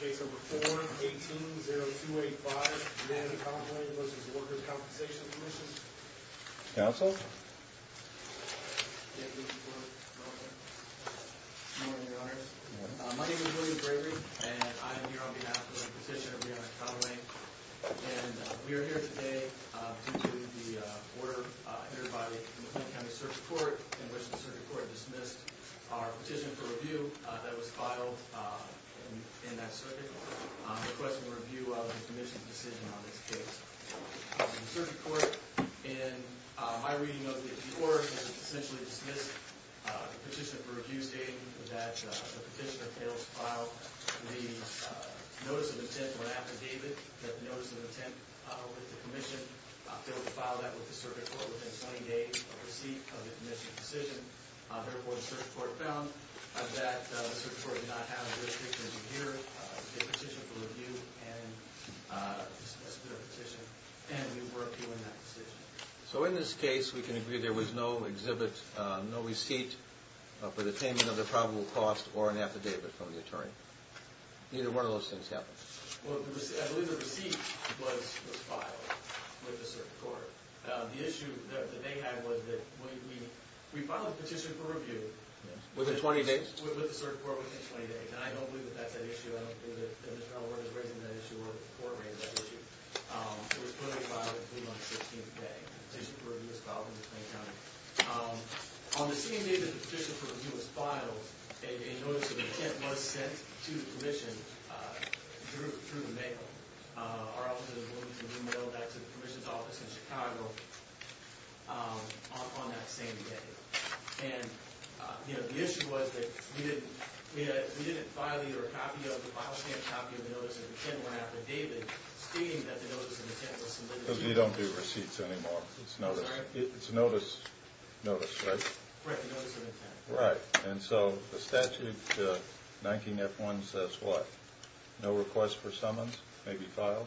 Case number 4-18-0285, Rianna Conway v. The Workers' Compensation Commission My name is William Bravery, and I am here on behalf of the petitioner Rianna Conway And we are here today due to the order entered by the McClain County Circuit Court in which the Circuit Court dismissed our petition for review that was filed in that circuit, requesting a review of the Commission's decision on this case. The Circuit Court, in my reading of it, before it was essentially dismissed, the petitioner for review stated that the petitioner failed to file the notice of intent when affidavit, that notice of intent with the Commission, that they would file that with the Circuit Court within 20 days of receipt of the Commission's decision. Therefore, the Circuit Court found that the Circuit Court did not have jurisdiction over here to take a petition for review and dismiss the petition, and we weren't doing that decision. So in this case, we can agree there was no exhibit, no receipt for the payment of the probable cost or an affidavit from the attorney. Neither one of those things happened. Well, I believe the receipt was filed with the Circuit Court. The issue that they had was that we filed a petition for review with the Circuit Court within 20 days, and I don't believe that that's an issue. I don't believe that Mr. Ellworth is raising that issue or the Court raised that issue. It was put on file on the 16th day. The petition for review was filed in McClain County. On the same day that the petition for review was filed, a notice of intent was sent to the Commission through the mail. Our office was able to mail that to the Commission's office in Chicago on that same day. And the issue was that we didn't file either a copy of the file stamp copy of the notice of intent or an affidavit stating that the notice of intent was submitted to the Commission. Because we don't do receipts anymore. It's notice, right? Correct, the notice of intent. Right, and so the statute 19F1 says what? No request for summons may be filed?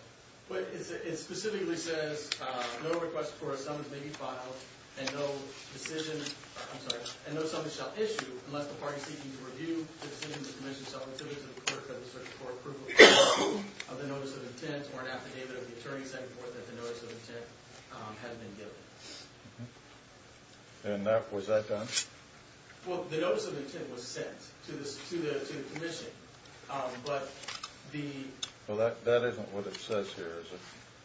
It specifically says no request for a summons may be filed and no decision, I'm sorry, and no summons shall issue unless the party seeking to review the decision of the Commission shall receive a notice of intent or an affidavit of the attorney setting forth that the notice of intent has been given. And that, was that done? Well, the notice of intent was sent to the Commission, but the... Well, that isn't what it says here, is it?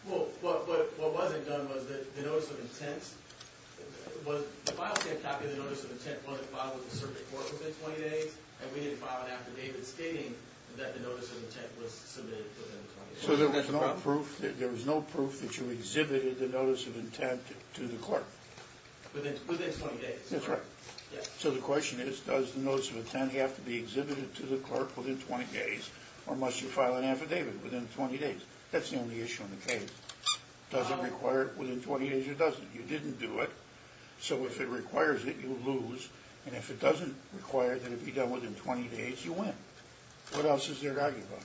Well, what wasn't done was that the notice of intent, the file stamp copy of the notice of intent wasn't filed with the circuit court within 20 days, and we didn't file an affidavit stating that the notice of intent was submitted within 20 days. So there was no proof that you exhibited the notice of intent to the clerk? Within 20 days. That's right. So the question is, does the notice of intent have to be exhibited to the clerk within 20 days, or must you file an affidavit within 20 days? That's the only issue in the case. Does it require it within 20 days or doesn't? You didn't do it, so if it requires it, you lose, and if it doesn't require that it be done within 20 days, you win. What else is there to argue about?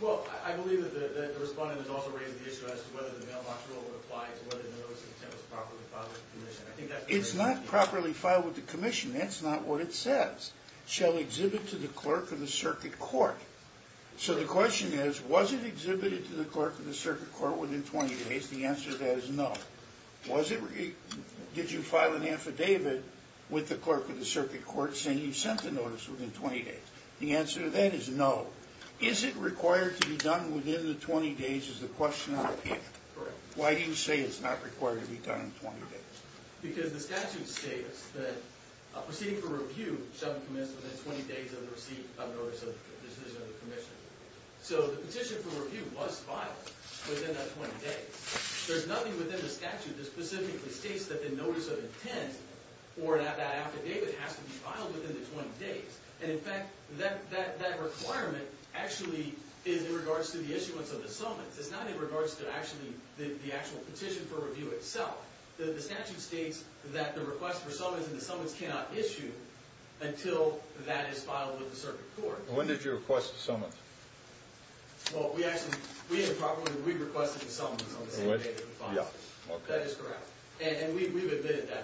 Well, I believe that the respondent has also raised the issue as to whether the mailbox rule would apply to whether the notice of intent was properly filed with the Commission. It's not properly filed with the Commission. That's not what it says. Shall exhibit to the clerk of the circuit court. So the question is, was it exhibited to the clerk of the circuit court within 20 days? The answer to that is no. Did you file an affidavit with the clerk of the circuit court saying you sent the notice within 20 days? The answer to that is no. Is it required to be done within the 20 days is the question on the paper. Correct. Why do you say it's not required to be done in 20 days? Because the statute states that a proceeding for review shall be commenced within 20 days of the receipt of notice of decision of the Commission. So the petition for review was filed within that 20 days. There's nothing within the statute that specifically states that the notice of intent or that affidavit has to be filed within the 20 days. And, in fact, that requirement actually is in regards to the issuance of the summons. It's not in regards to actually the actual petition for review itself. The statute states that the request for summons in the summons cannot issue until that is filed with the circuit court. When did you request the summons? Well, we actually improperly requested the summons on the same day that it was filed. That is correct. And we've admitted that.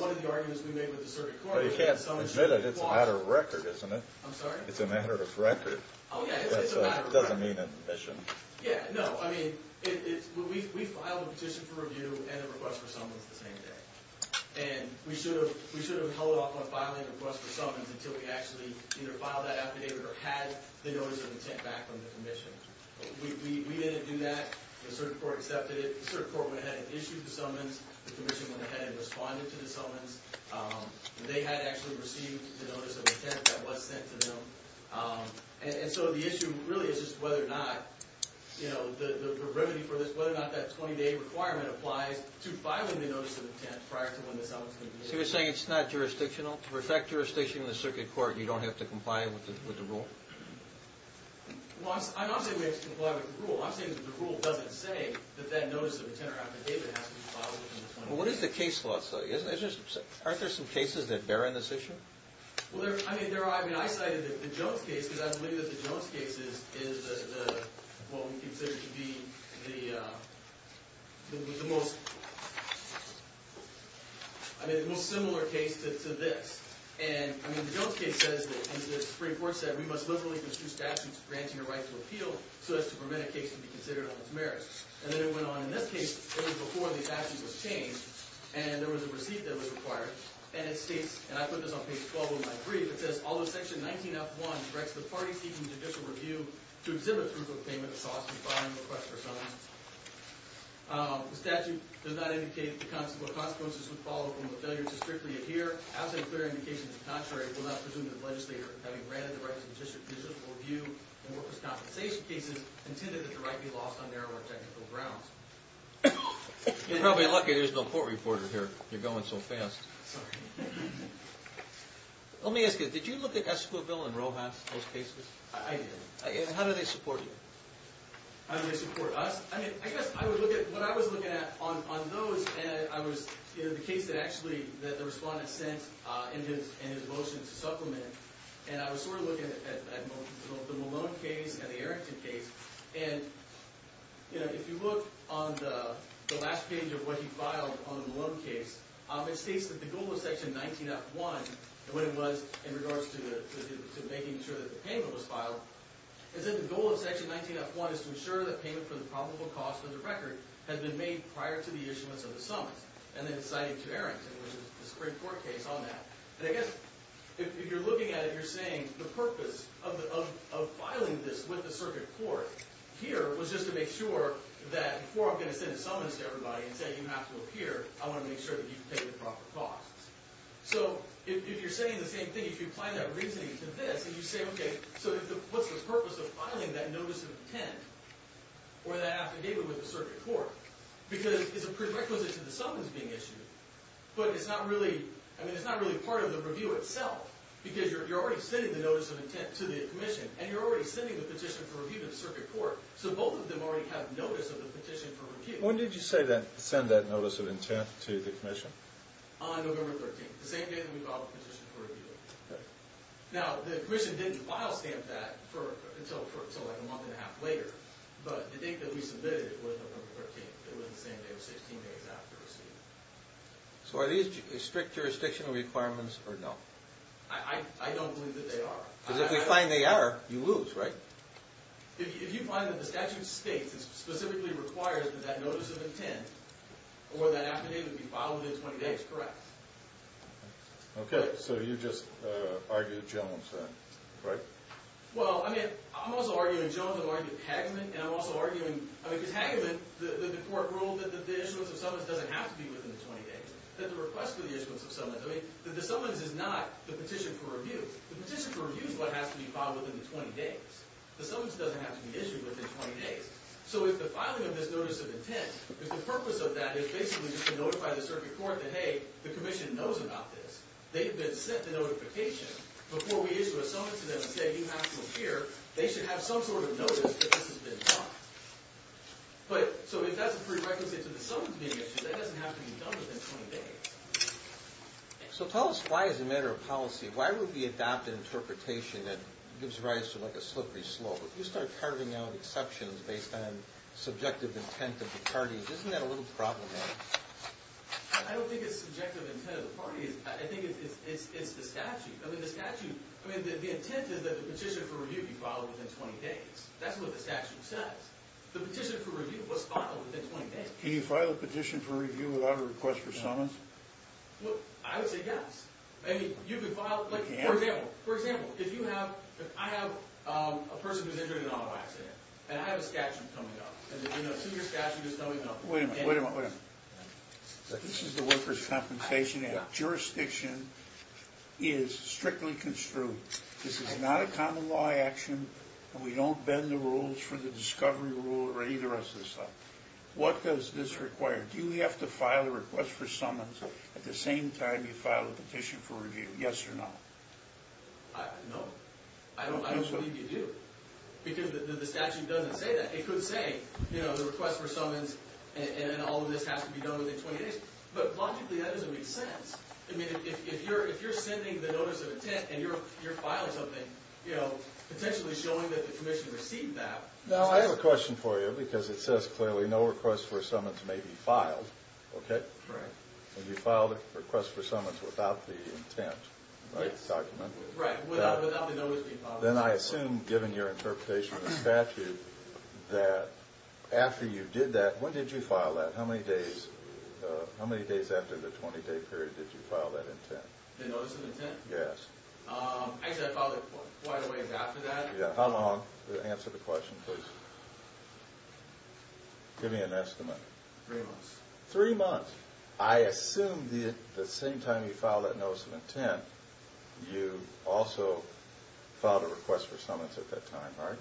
One of the arguments we made with the circuit court was that the summons should qualify. But you can't admit it. It's a matter of record, isn't it? I'm sorry? It's a matter of record. Oh, yeah. It's a matter of record. It doesn't mean an admission. Yeah, no. I mean, we filed a petition for review and a request for summons the same day. And we should have held off on filing a request for summons until we actually either filed that affidavit or had the notice of intent back from the Commission. We didn't do that. The circuit court accepted it. The circuit court went ahead and issued the summons. The Commission went ahead and responded to the summons. They had actually received the notice of intent that was sent to them. And so the issue really is just whether or not, you know, the remedy for this, whether or not that 20-day requirement applies to filing the notice of intent prior to when the summons can be issued. So you're saying it's not jurisdictional? For that jurisdiction in the circuit court, you don't have to comply with the rule? Well, I'm not saying we have to comply with the rule. I'm saying that the rule doesn't say that that notice of intent or affidavit has to be filed within the 20 days. Well, what does the case law say? Aren't there some cases that bear on this issue? Well, there are. I mean, I cited the Jones case because I believe that the Jones case is what we consider to be the most similar case to this. And, I mean, the Jones case says that, as the Supreme Court said, we must liberally construe statutes granting a right to appeal so as to prevent a case to be considered on its merits. And then it went on in this case. It was before the statute was changed, and there was a receipt that was required. And it states, and I put this on page 12 of my brief, it says, although Section 19F1 directs the parties seeking judicial review to exhibit proof of payment of sauce to file a request for summons, the statute does not indicate what consequences would follow from the failure to strictly adhere. As a clear indication of contrary, we will not presume that the legislator, having granted the right to judicial review in workers' compensation cases, intended that the right be lost on narrow or technical grounds. You're probably lucky there's no court reporter here. You're going so fast. Sorry. Let me ask you, did you look at Esquivel and Rojas, those cases? I did. And how do they support you? How do they support us? I mean, I guess I would look at what I was looking at on those. And I was in the case that actually the respondent sent in his motion to supplement. And I was sort of looking at both the Malone case and the Errington case. And, you know, if you look on the last page of what he filed on the Malone case, it states that the goal of Section 19F1 and what it was in regards to making sure that the payment was filed, it said the goal of Section 19F1 is to ensure that payment for the probable cost of the record has been made prior to the issuance of the summons. And then it cited to Errington, which is the Supreme Court case, on that. And I guess if you're looking at it, you're saying the purpose of filing this with the circuit court here was just to make sure that before I'm going to send a summons to everybody and say you have to appear, I want to make sure that you pay the proper costs. So if you're saying the same thing, if you apply that reasoning to this and you say, OK, so what's the purpose of filing that notice of intent or that affidavit with the circuit court? Because it's a prerequisite to the summons being issued. But it's not really part of the review itself because you're already sending the notice of intent to the commission. And you're already sending the petition for review to the circuit court. So both of them already have notice of the petition for review. When did you send that notice of intent to the commission? On November 13th, the same day that we filed the petition for review. Now, the commission didn't file stamp that until like a month and a half later. But the date that we submitted it was November 13th. It was the same day, 16 days after receiving it. So are these strict jurisdictional requirements or no? I don't believe that they are. Because if we find they are, you lose, right? If you find that the statute states and specifically requires that that notice of intent or that affidavit be filed within 20 days, correct. OK. So you just argued Jones then, right? Well, I mean, I'm also arguing Jones. I'm arguing Hageman. And I'm also arguing, I mean, because Hageman, the court ruled that the issuance of summons doesn't have to be within the 20 days, that the request for the issuance of summons. I mean, the summons is not the petition for review. The petition for review is what has to be filed within the 20 days. The summons doesn't have to be issued within 20 days. So if the filing of this notice of intent, if the purpose of that is basically to notify the circuit court that, hey, the commission knows about this. They've been sent the notification before we issue a summons to them and say, you have to appear. They should have some sort of notice that this has been done. But so if that's a prerequisite to the summons being issued, that doesn't have to be done within 20 days. So tell us why as a matter of policy. Why would we adopt an interpretation that gives rise to, like, a slippery slope? If you start carving out exceptions based on subjective intent of the parties, isn't that a little problematic? I don't think it's subjective intent of the parties. I think it's the statute. I mean, the statute, I mean, the intent is that the petition for review be filed within 20 days. That's what the statute says. The petition for review was filed within 20 days. Can you file a petition for review without a request for summons? Well, I would say yes. I mean, you could file, like, for example, for example, if you have, if I have a person who's injured in an auto accident and I have a statute coming up and the senior statute is coming up. Wait a minute, wait a minute, wait a minute. This is the Workers' Compensation Act. Jurisdiction is strictly construed. This is not a common law action, and we don't bend the rules for the discovery rule or any of the rest of this stuff. What does this require? Do we have to file a request for summons at the same time you file a petition for review? Yes or no? No. I don't believe you do, because the statute doesn't say that. It could say, you know, the request for summons and all of this has to be done within 20 days. But logically, that doesn't make sense. I mean, if you're sending the notice of intent and you're filing something, you know, potentially showing that the commission received that. I have a question for you, because it says clearly no request for summons may be filed, okay? Right. And you filed a request for summons without the intent document. Right, without the notice being filed. Then I assume, given your interpretation of the statute, that after you did that, when did you file that? How many days after the 20-day period did you file that intent? The notice of intent? Yes. Actually, I filed it quite a ways after that. How long? Answer the question, please. Give me an estimate. Three months. Three months. I assume that the same time you filed that notice of intent, you also filed a request for summons at that time, right?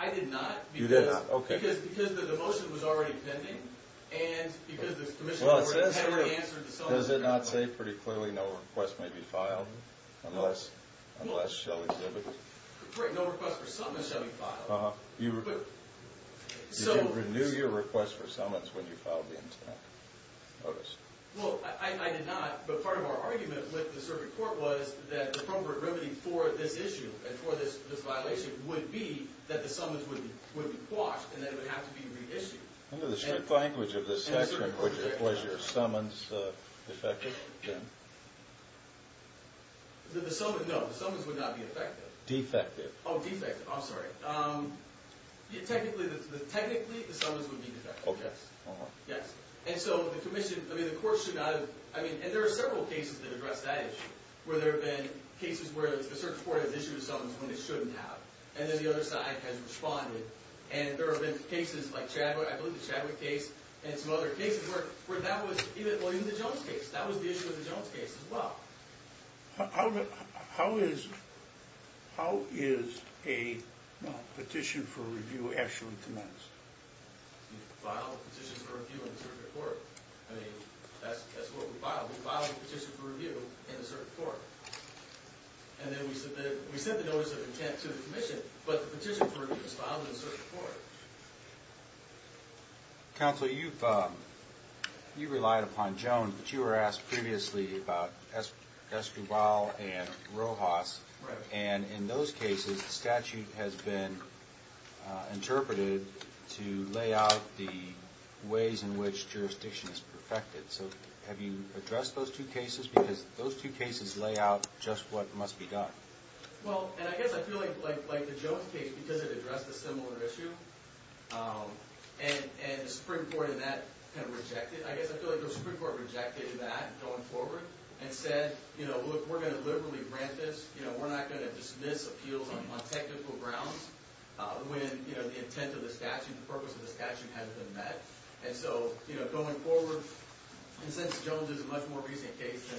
I did not. You did not, okay. Because the motion was already pending, and because the commission had already answered the summons. Does it not say pretty clearly no request may be filed unless she'll exhibit it? Right, no request for summons shall be filed. You didn't renew your request for summons when you filed the intent notice. Well, I did not, but part of our argument with the circuit court was that the appropriate remedy for this issue and for this violation would be that the summons would be quashed and that it would have to be reissued. Under the strict language of this section, was your summons defective then? No, the summons would not be defective. Defective. Oh, defective, I'm sorry. Technically, the summons would be defective. Okay. Yes, and so the commission, I mean, the court should not have, I mean, and there are several cases that address that issue, where there have been cases where the circuit court has issued summons when it shouldn't have, and then the other side has responded. And there have been cases like Chadwick, I believe the Chadwick case, and some other cases where that was, even the Jones case, that was the issue of the Jones case as well. How is a petition for review actually commenced? You file a petition for review in the circuit court. I mean, that's what we filed. We filed a petition for review in the circuit court. And then we sent the notice of intent to the commission, but the petition for review was filed in the circuit court. Counsel, you've relied upon Jones, but you were asked previously about Esquivel and Rojas. Right. And in those cases, the statute has been interpreted to lay out the ways in which jurisdiction is perfected. So have you addressed those two cases? Because those two cases lay out just what must be done. Well, and I guess I feel like the Jones case, because it addressed a similar issue, and the Supreme Court in that kind of rejected it, I guess I feel like the Supreme Court rejected that going forward and said, you know, look, we're going to liberally grant this. You know, we're not going to dismiss appeals on technical grounds when, you know, the intent of the statute, the purpose of the statute hasn't been met. And so, you know, going forward, and since Jones is a much more recent case than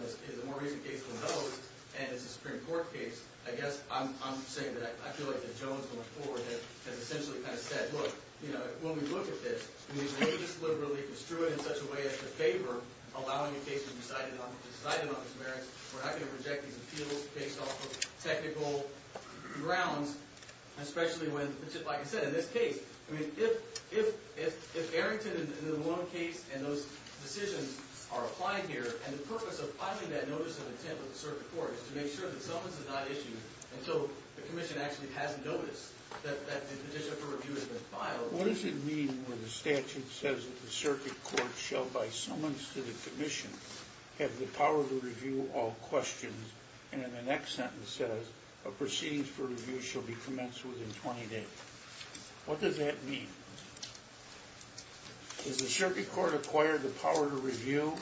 those, and it's a Supreme Court case, I guess I'm saying that I feel like the Jones going forward has essentially kind of said, look, you know, when we look at this, we may just liberally construe it in such a way as to favor allowing a case to be decided on the merits. We're not going to reject these appeals based off of technical grounds, especially when, like I said, in this case, I mean, if Arrington and the Malone case and those decisions are applied here, and the purpose of filing that notice of intent with the circuit court is to make sure that summons is not issued until the commission actually hasn't noticed that the petition for review has been filed. What does it mean when the statute says that the circuit court shall, by summons to the commission, have the power to review all questions, and in the next sentence says, a proceedings for review shall be commenced within 20 days? What does that mean? Does the circuit court acquire the power to review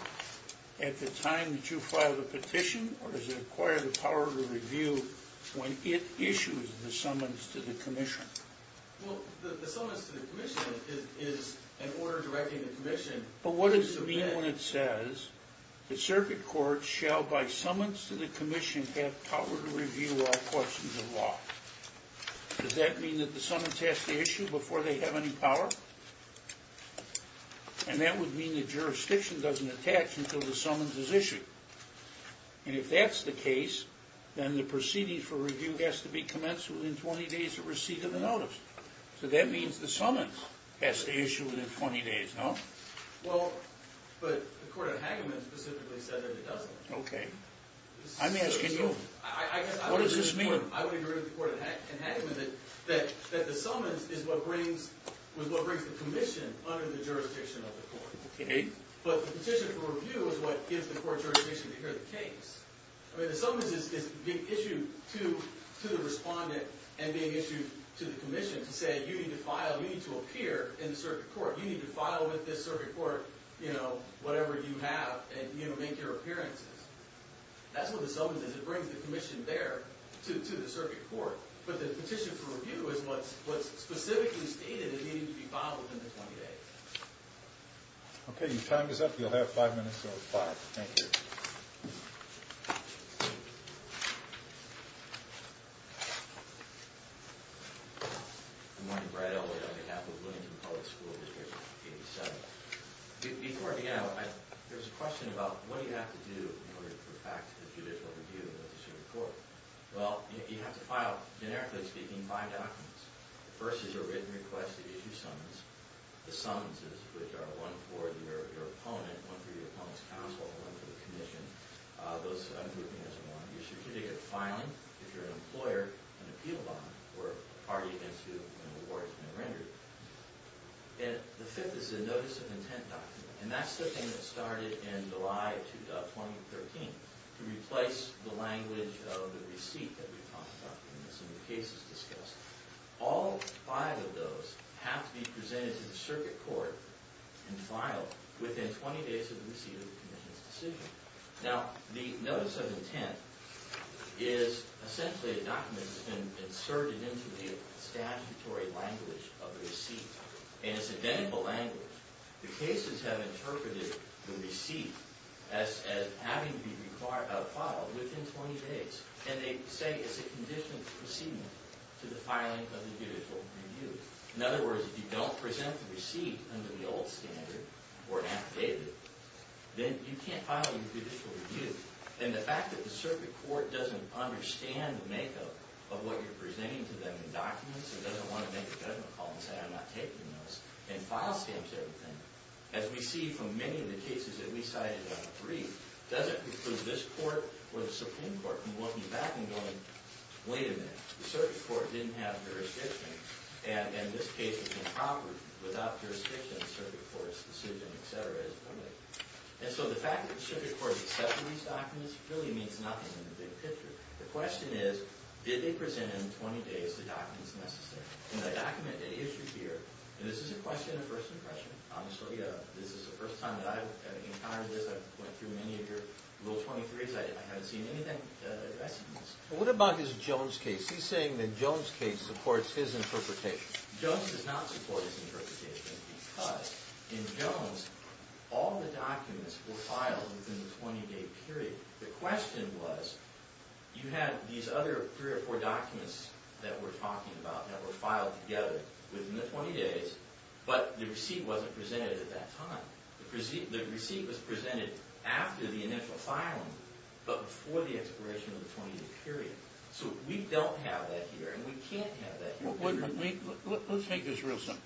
at the time that you file the petition, or does it acquire the power to review when it issues the summons to the commission? Well, the summons to the commission is an order directing the commission. But what does it mean when it says the circuit court shall, by summons to the commission, have power to review all questions of law? Does that mean that the summons has to issue before they have any power? And that would mean the jurisdiction doesn't attach until the summons is issued. And if that's the case, then the proceedings for review has to be commenced within 20 days of receipt of the notice. So that means the summons has to issue within 20 days, no? Well, but the court of Hageman specifically said that it doesn't. Okay. I'm asking you. What does this mean? I would agree with the court of Hageman that the summons is what brings the commission under the jurisdiction of the court. But the petition for review is what gives the court jurisdiction to hear the case. I mean, the summons is being issued to the respondent and being issued to the commission to say, you need to file, you need to appear in the circuit court. You need to file with this circuit court whatever you have and make your appearances. That's what the summons is. It brings the commission there to the circuit court. But the petition for review is what specifically stated it needed to be filed within the 20 days. Okay. Your time is up. You'll have five minutes or five. Thank you. Good morning. Brad Elwood on behalf of Williamson Public School District 87. Before I begin, there's a question about what do you have to do in order to put back to the judicial review of the circuit court? Well, you have to file, generically speaking, five documents. The first is a written request to issue summons. The summonses, which are one for your opponent, one for your opponent's counsel, one for the commission. Those ungrouping is one. Your certificate of filing, if you're an employer, an appeal bond or a party against whom an award has been rendered. And the fifth is a notice of intent document. And that's the thing that started in July 2013 to replace the language of the receipt that we talked about in some of the cases discussed. All five of those have to be presented to the circuit court and filed within 20 days of the receipt of the commission's decision. Now, the notice of intent is essentially a document that's been inserted into the statutory language of the receipt. And it's identical language. The cases have interpreted the receipt as having to be filed within 20 days. And they say it's a conditional proceedment to the filing of the judicial review. In other words, if you don't present the receipt under the old standard or an affidavit, then you can't file your judicial review. And the fact that the circuit court doesn't understand the makeup of what you're presenting to them in documents and doesn't want to make a judgment call and say, I'm not taking those and file the same sort of thing, as we see from many of the cases that we cited on the brief, doesn't preclude this court or the Supreme Court from looking back and going, wait a minute, the circuit court didn't have jurisdiction. And this case is improper. Without jurisdiction, the circuit court's decision, et cetera, is permitted. And so the fact that the circuit court accepted these documents really means nothing in the big picture. The question is, did they present in 20 days the documents necessary? And the document they issued here, and this is a question of first impression. This is the first time that I've encountered this. I've went through many of your Rule 23s. I haven't seen anything addressing this. What about his Jones case? He's saying the Jones case supports his interpretation. Jones does not support his interpretation because in Jones, all the documents were filed within the 20-day period. The question was, you had these other three or four documents that we're talking about that were filed together within the 20 days, but the receipt wasn't presented at that time. The receipt was presented after the initial filing, but before the expiration of the 20-day period. So we don't have that here, and we can't have that here. Let's make this real simple.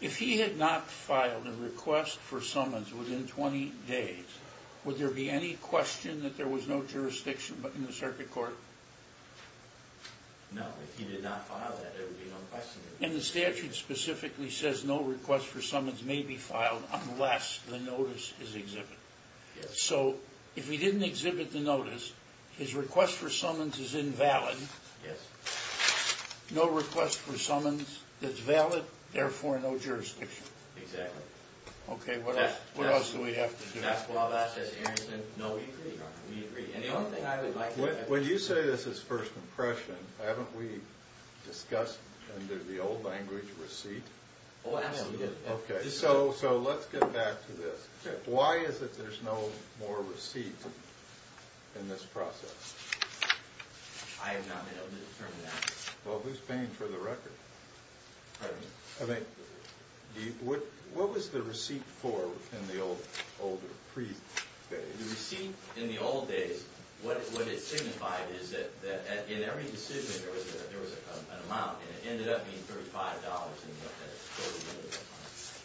If he had not filed a request for summons within 20 days, would there be any question that there was no jurisdiction in the circuit court? No, if he did not file that, there would be no question. And the statute specifically says no request for summons may be filed unless the notice is exhibited. Yes. So if he didn't exhibit the notice, his request for summons is invalid. Yes. No request for summons that's valid, therefore no jurisdiction. Exactly. Okay, what else do we have to do? Well, that's as Aaron said, no. We agree. When you say this is first impression, haven't we discussed under the old language receipt? Oh, absolutely. Okay, so let's get back to this. Why is it there's no more receipt in this process? I have not been able to determine that. Well, who's paying for the record? Pardon me? I mean, what was the receipt for in the older, pre-page? The receipt in the old days, what it signified is that in every decision there was an amount, and it ended up being $35.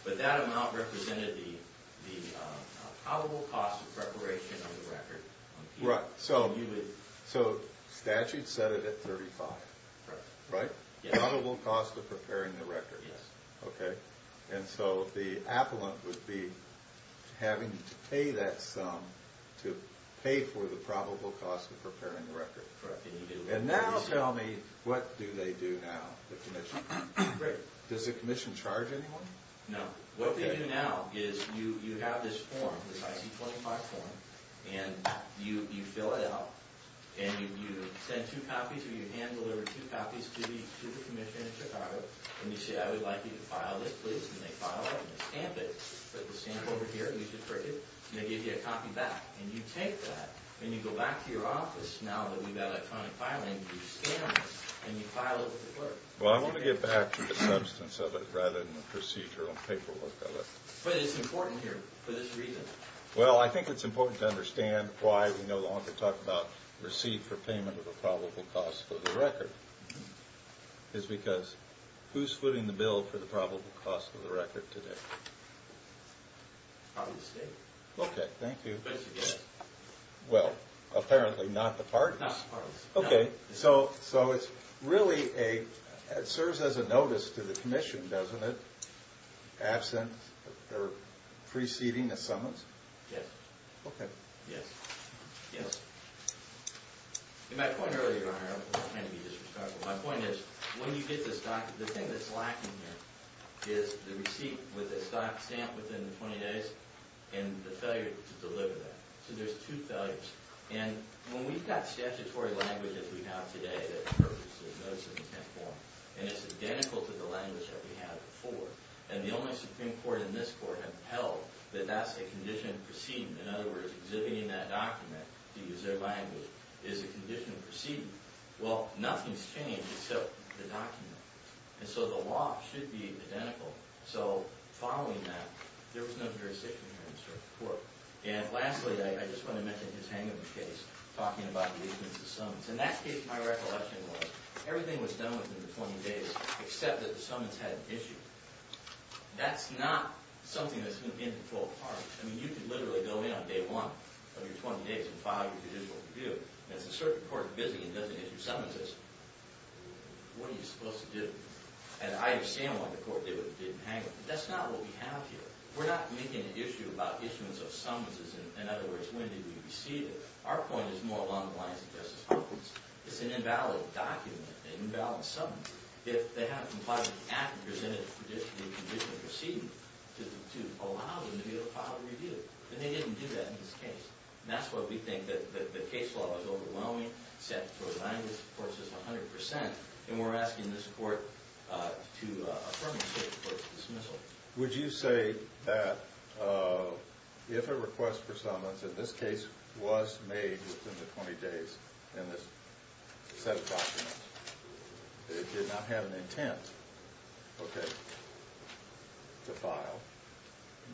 But that amount represented the probable cost of preparation of the record. Right, so statute said it at $35, right? Yes. Probable cost of preparing the record. Yes. Okay, and so the appellant would be having to pay that sum to pay for the probable cost of preparing the record. Correct. And now tell me, what do they do now, the commission? Does the commission charge anyone? No. What they do now is you have this form, this IC-25 form, and you fill it out, and you send two copies or you hand deliver two copies to the commission in Chicago, and you say, I would like you to file this, please. And they file it, and they stamp it, put the stamp over here, and you just print it, and they give you a copy back. And you take that, and you go back to your office now that we've got electronic filing, you scan this, and you file it with the clerk. Well, I'm going to get back to the substance of it rather than the procedural paperwork of it. But it's important here for this reason. Well, I think it's important to understand why we no longer talk about receipt for payment of a probable cost for the record. It's because who's footing the bill for the probable cost of the record today? Probably the state. Okay, thank you. Basically, yes. Well, apparently not the parties. Not the parties. Okay, so it's really a – it serves as a notice to the commission, doesn't it, absent or preceding a summons? Yes. Okay. Yes. Yes. My point earlier, Your Honor, and I'm not trying to be disrespectful, my point is when you get this document, the thing that's lacking here is the receipt with the stock stamp within 20 days and the failure to deliver that. So there's two failures. And when we've got statutory language, as we have today, that purges the notice of intent form, and it's identical to the language that we had before, and the only Supreme Court in this court have held that that's a condition preceding, in other words, exhibiting that document to use their language is a condition preceding, well, nothing's changed except the document. And so the law should be identical. So following that, there was no jurisdiction here in the Supreme Court. And lastly, I just want to mention his hangover case, talking about the issuance of summons. In that case, my recollection was everything was done within the 20 days, except that the summons had an issue. That's not something that's going to be in full part. I mean, you could literally go in on day one of your 20 days and file your judicial review, and it's a certain court that's busy and doesn't issue summonses. What are you supposed to do? And I understand why the court did what it did in hangover, but that's not what we have here. We're not making an issue about issuance of summonses, in other words, when did we receive it. Our point is more along the lines of Justice Hopkins. It's an invalid document, an invalid summons. If they have a compliant actors in it to allow them to be able to file a review, then they didn't do that in this case. And that's why we think that the case law is overwhelming, set for the hangover court system 100%, and we're asking this court to affirm the Supreme Court's dismissal. Would you say that if a request for summons in this case was made within the 20 days, in this set of documents, it did not have an intent, okay, to file,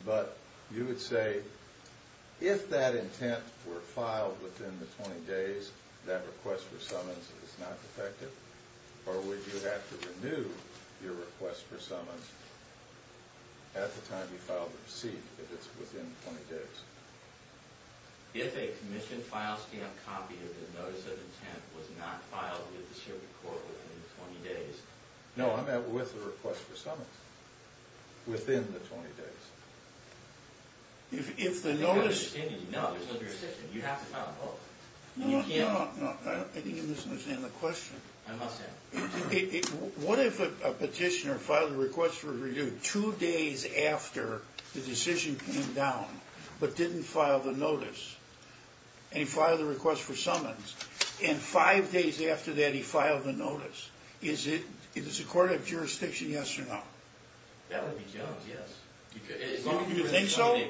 but you would say if that intent were filed within the 20 days, that request for summons is not effective, or would you have to renew your request for summons at the time you filed the receipt, if it's within 20 days? If a commission file stamp copy of the notice of intent was not filed with the Supreme Court within the 20 days. No, I meant with the request for summons. Within the 20 days. If the notice... No, there's no decision. You have to file both. No, no, no. I think you misunderstand the question. I must have. What if a petitioner filed a request for review two days after the decision came down, but didn't file the notice, and he filed the request for summons, and five days after that he filed the notice? Is the court of jurisdiction yes or no? That would be judged, yes. You think so?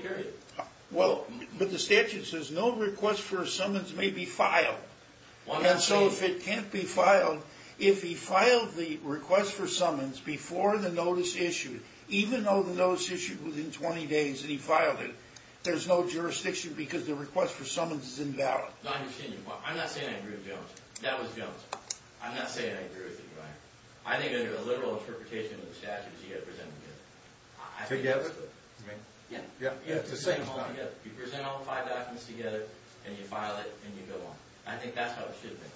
Well, but the statute says no request for summons may be filed. And so if it can't be filed, if he filed the request for summons before the notice issued, even though the notice issued was in 20 days and he filed it, there's no jurisdiction because the request for summons is invalid. I'm not saying I agree with Jones. That was Jones. I'm not saying I agree with him. I think under the literal interpretation of the statute, you have to present them together. Together? Yeah. You present all five documents together, and you file it, and you go on. I think that's how it should be.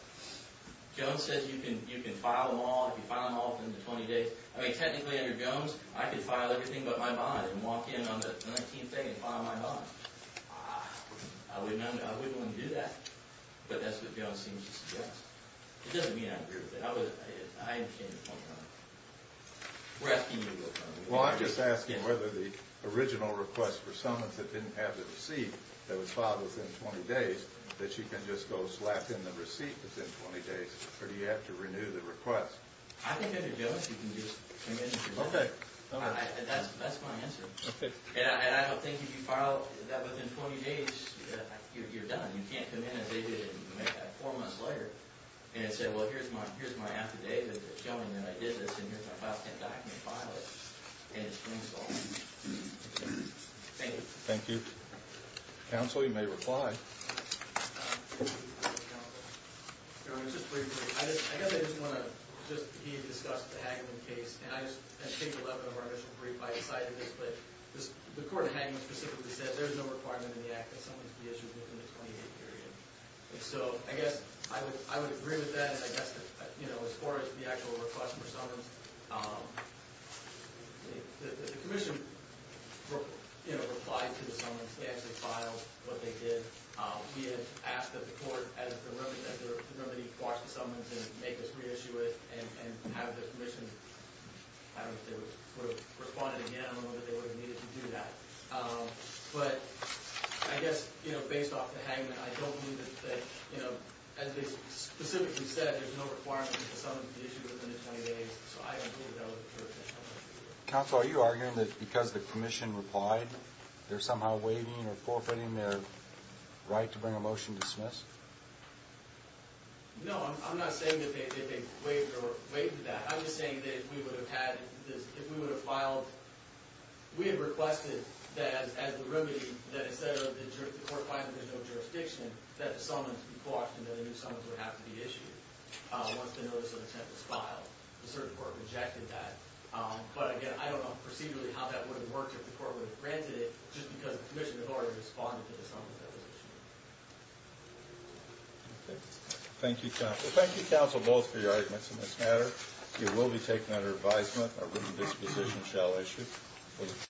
Jones says you can file them all if you file them all within the 20 days. I mean, technically under Jones, I could file everything but my bond and walk in on the 19th day and file my bond. I wouldn't want to do that. But that's what Jones seems to suggest. It doesn't mean I agree with it. I understand the point you're making. We're asking you to look at it. Well, I'm just asking whether the original request for summons that didn't have the receipt that was filed within 20 days, that she can just go slap in the receipt within 20 days, or do you have to renew the request? I think under Jones, you can just come in and do that. That's my answer. And I don't think if you file that within 20 days, you're done. You can't come in as they did and make that four months later and say, well, here's my affidavit showing that I did this, and here's my filed document, file it, and it's reinstalled. Thank you. Thank you. Counsel, you may reply. Your Honor, just briefly, I guess I just want to discuss the Hagman case. And I think 11 of our initial brief, I decided this, but the court in Hagman specifically said there is no requirement in the act that someone be issued within the 20-day period. So I guess I would agree with that. I guess as far as the actual request for summons, the commission replied to the summons. They actually filed what they did. We had asked that the court, as the remedy, watch the summons and make us reissue it and have the commission, I don't know if they would have responded again. I don't know that they would have needed to do that. But I guess, you know, based off the Hagman, I don't think that, you know, as they specifically said, there's no requirement that someone be issued within the 20 days. So I agree with that. Counsel, are you arguing that because the commission replied, they're somehow waiving or forfeiting their right to bring a motion to dismiss? No, I'm not saying that they waived or waived that. I'm just saying that if we would have filed, we had requested that as the remedy, that instead of the court finding there's no jurisdiction, that the summons be quashed and that a new summons would have to be issued once the notice of intent was filed. The circuit court rejected that. But again, I don't know procedurally how that would have worked if the court would have granted it just because the commission has already responded to the summons that was issued. Thank you, counsel. Thank you, counsel, both for your arguments in this matter. It will be taken under advisement. Our written disposition shall issue.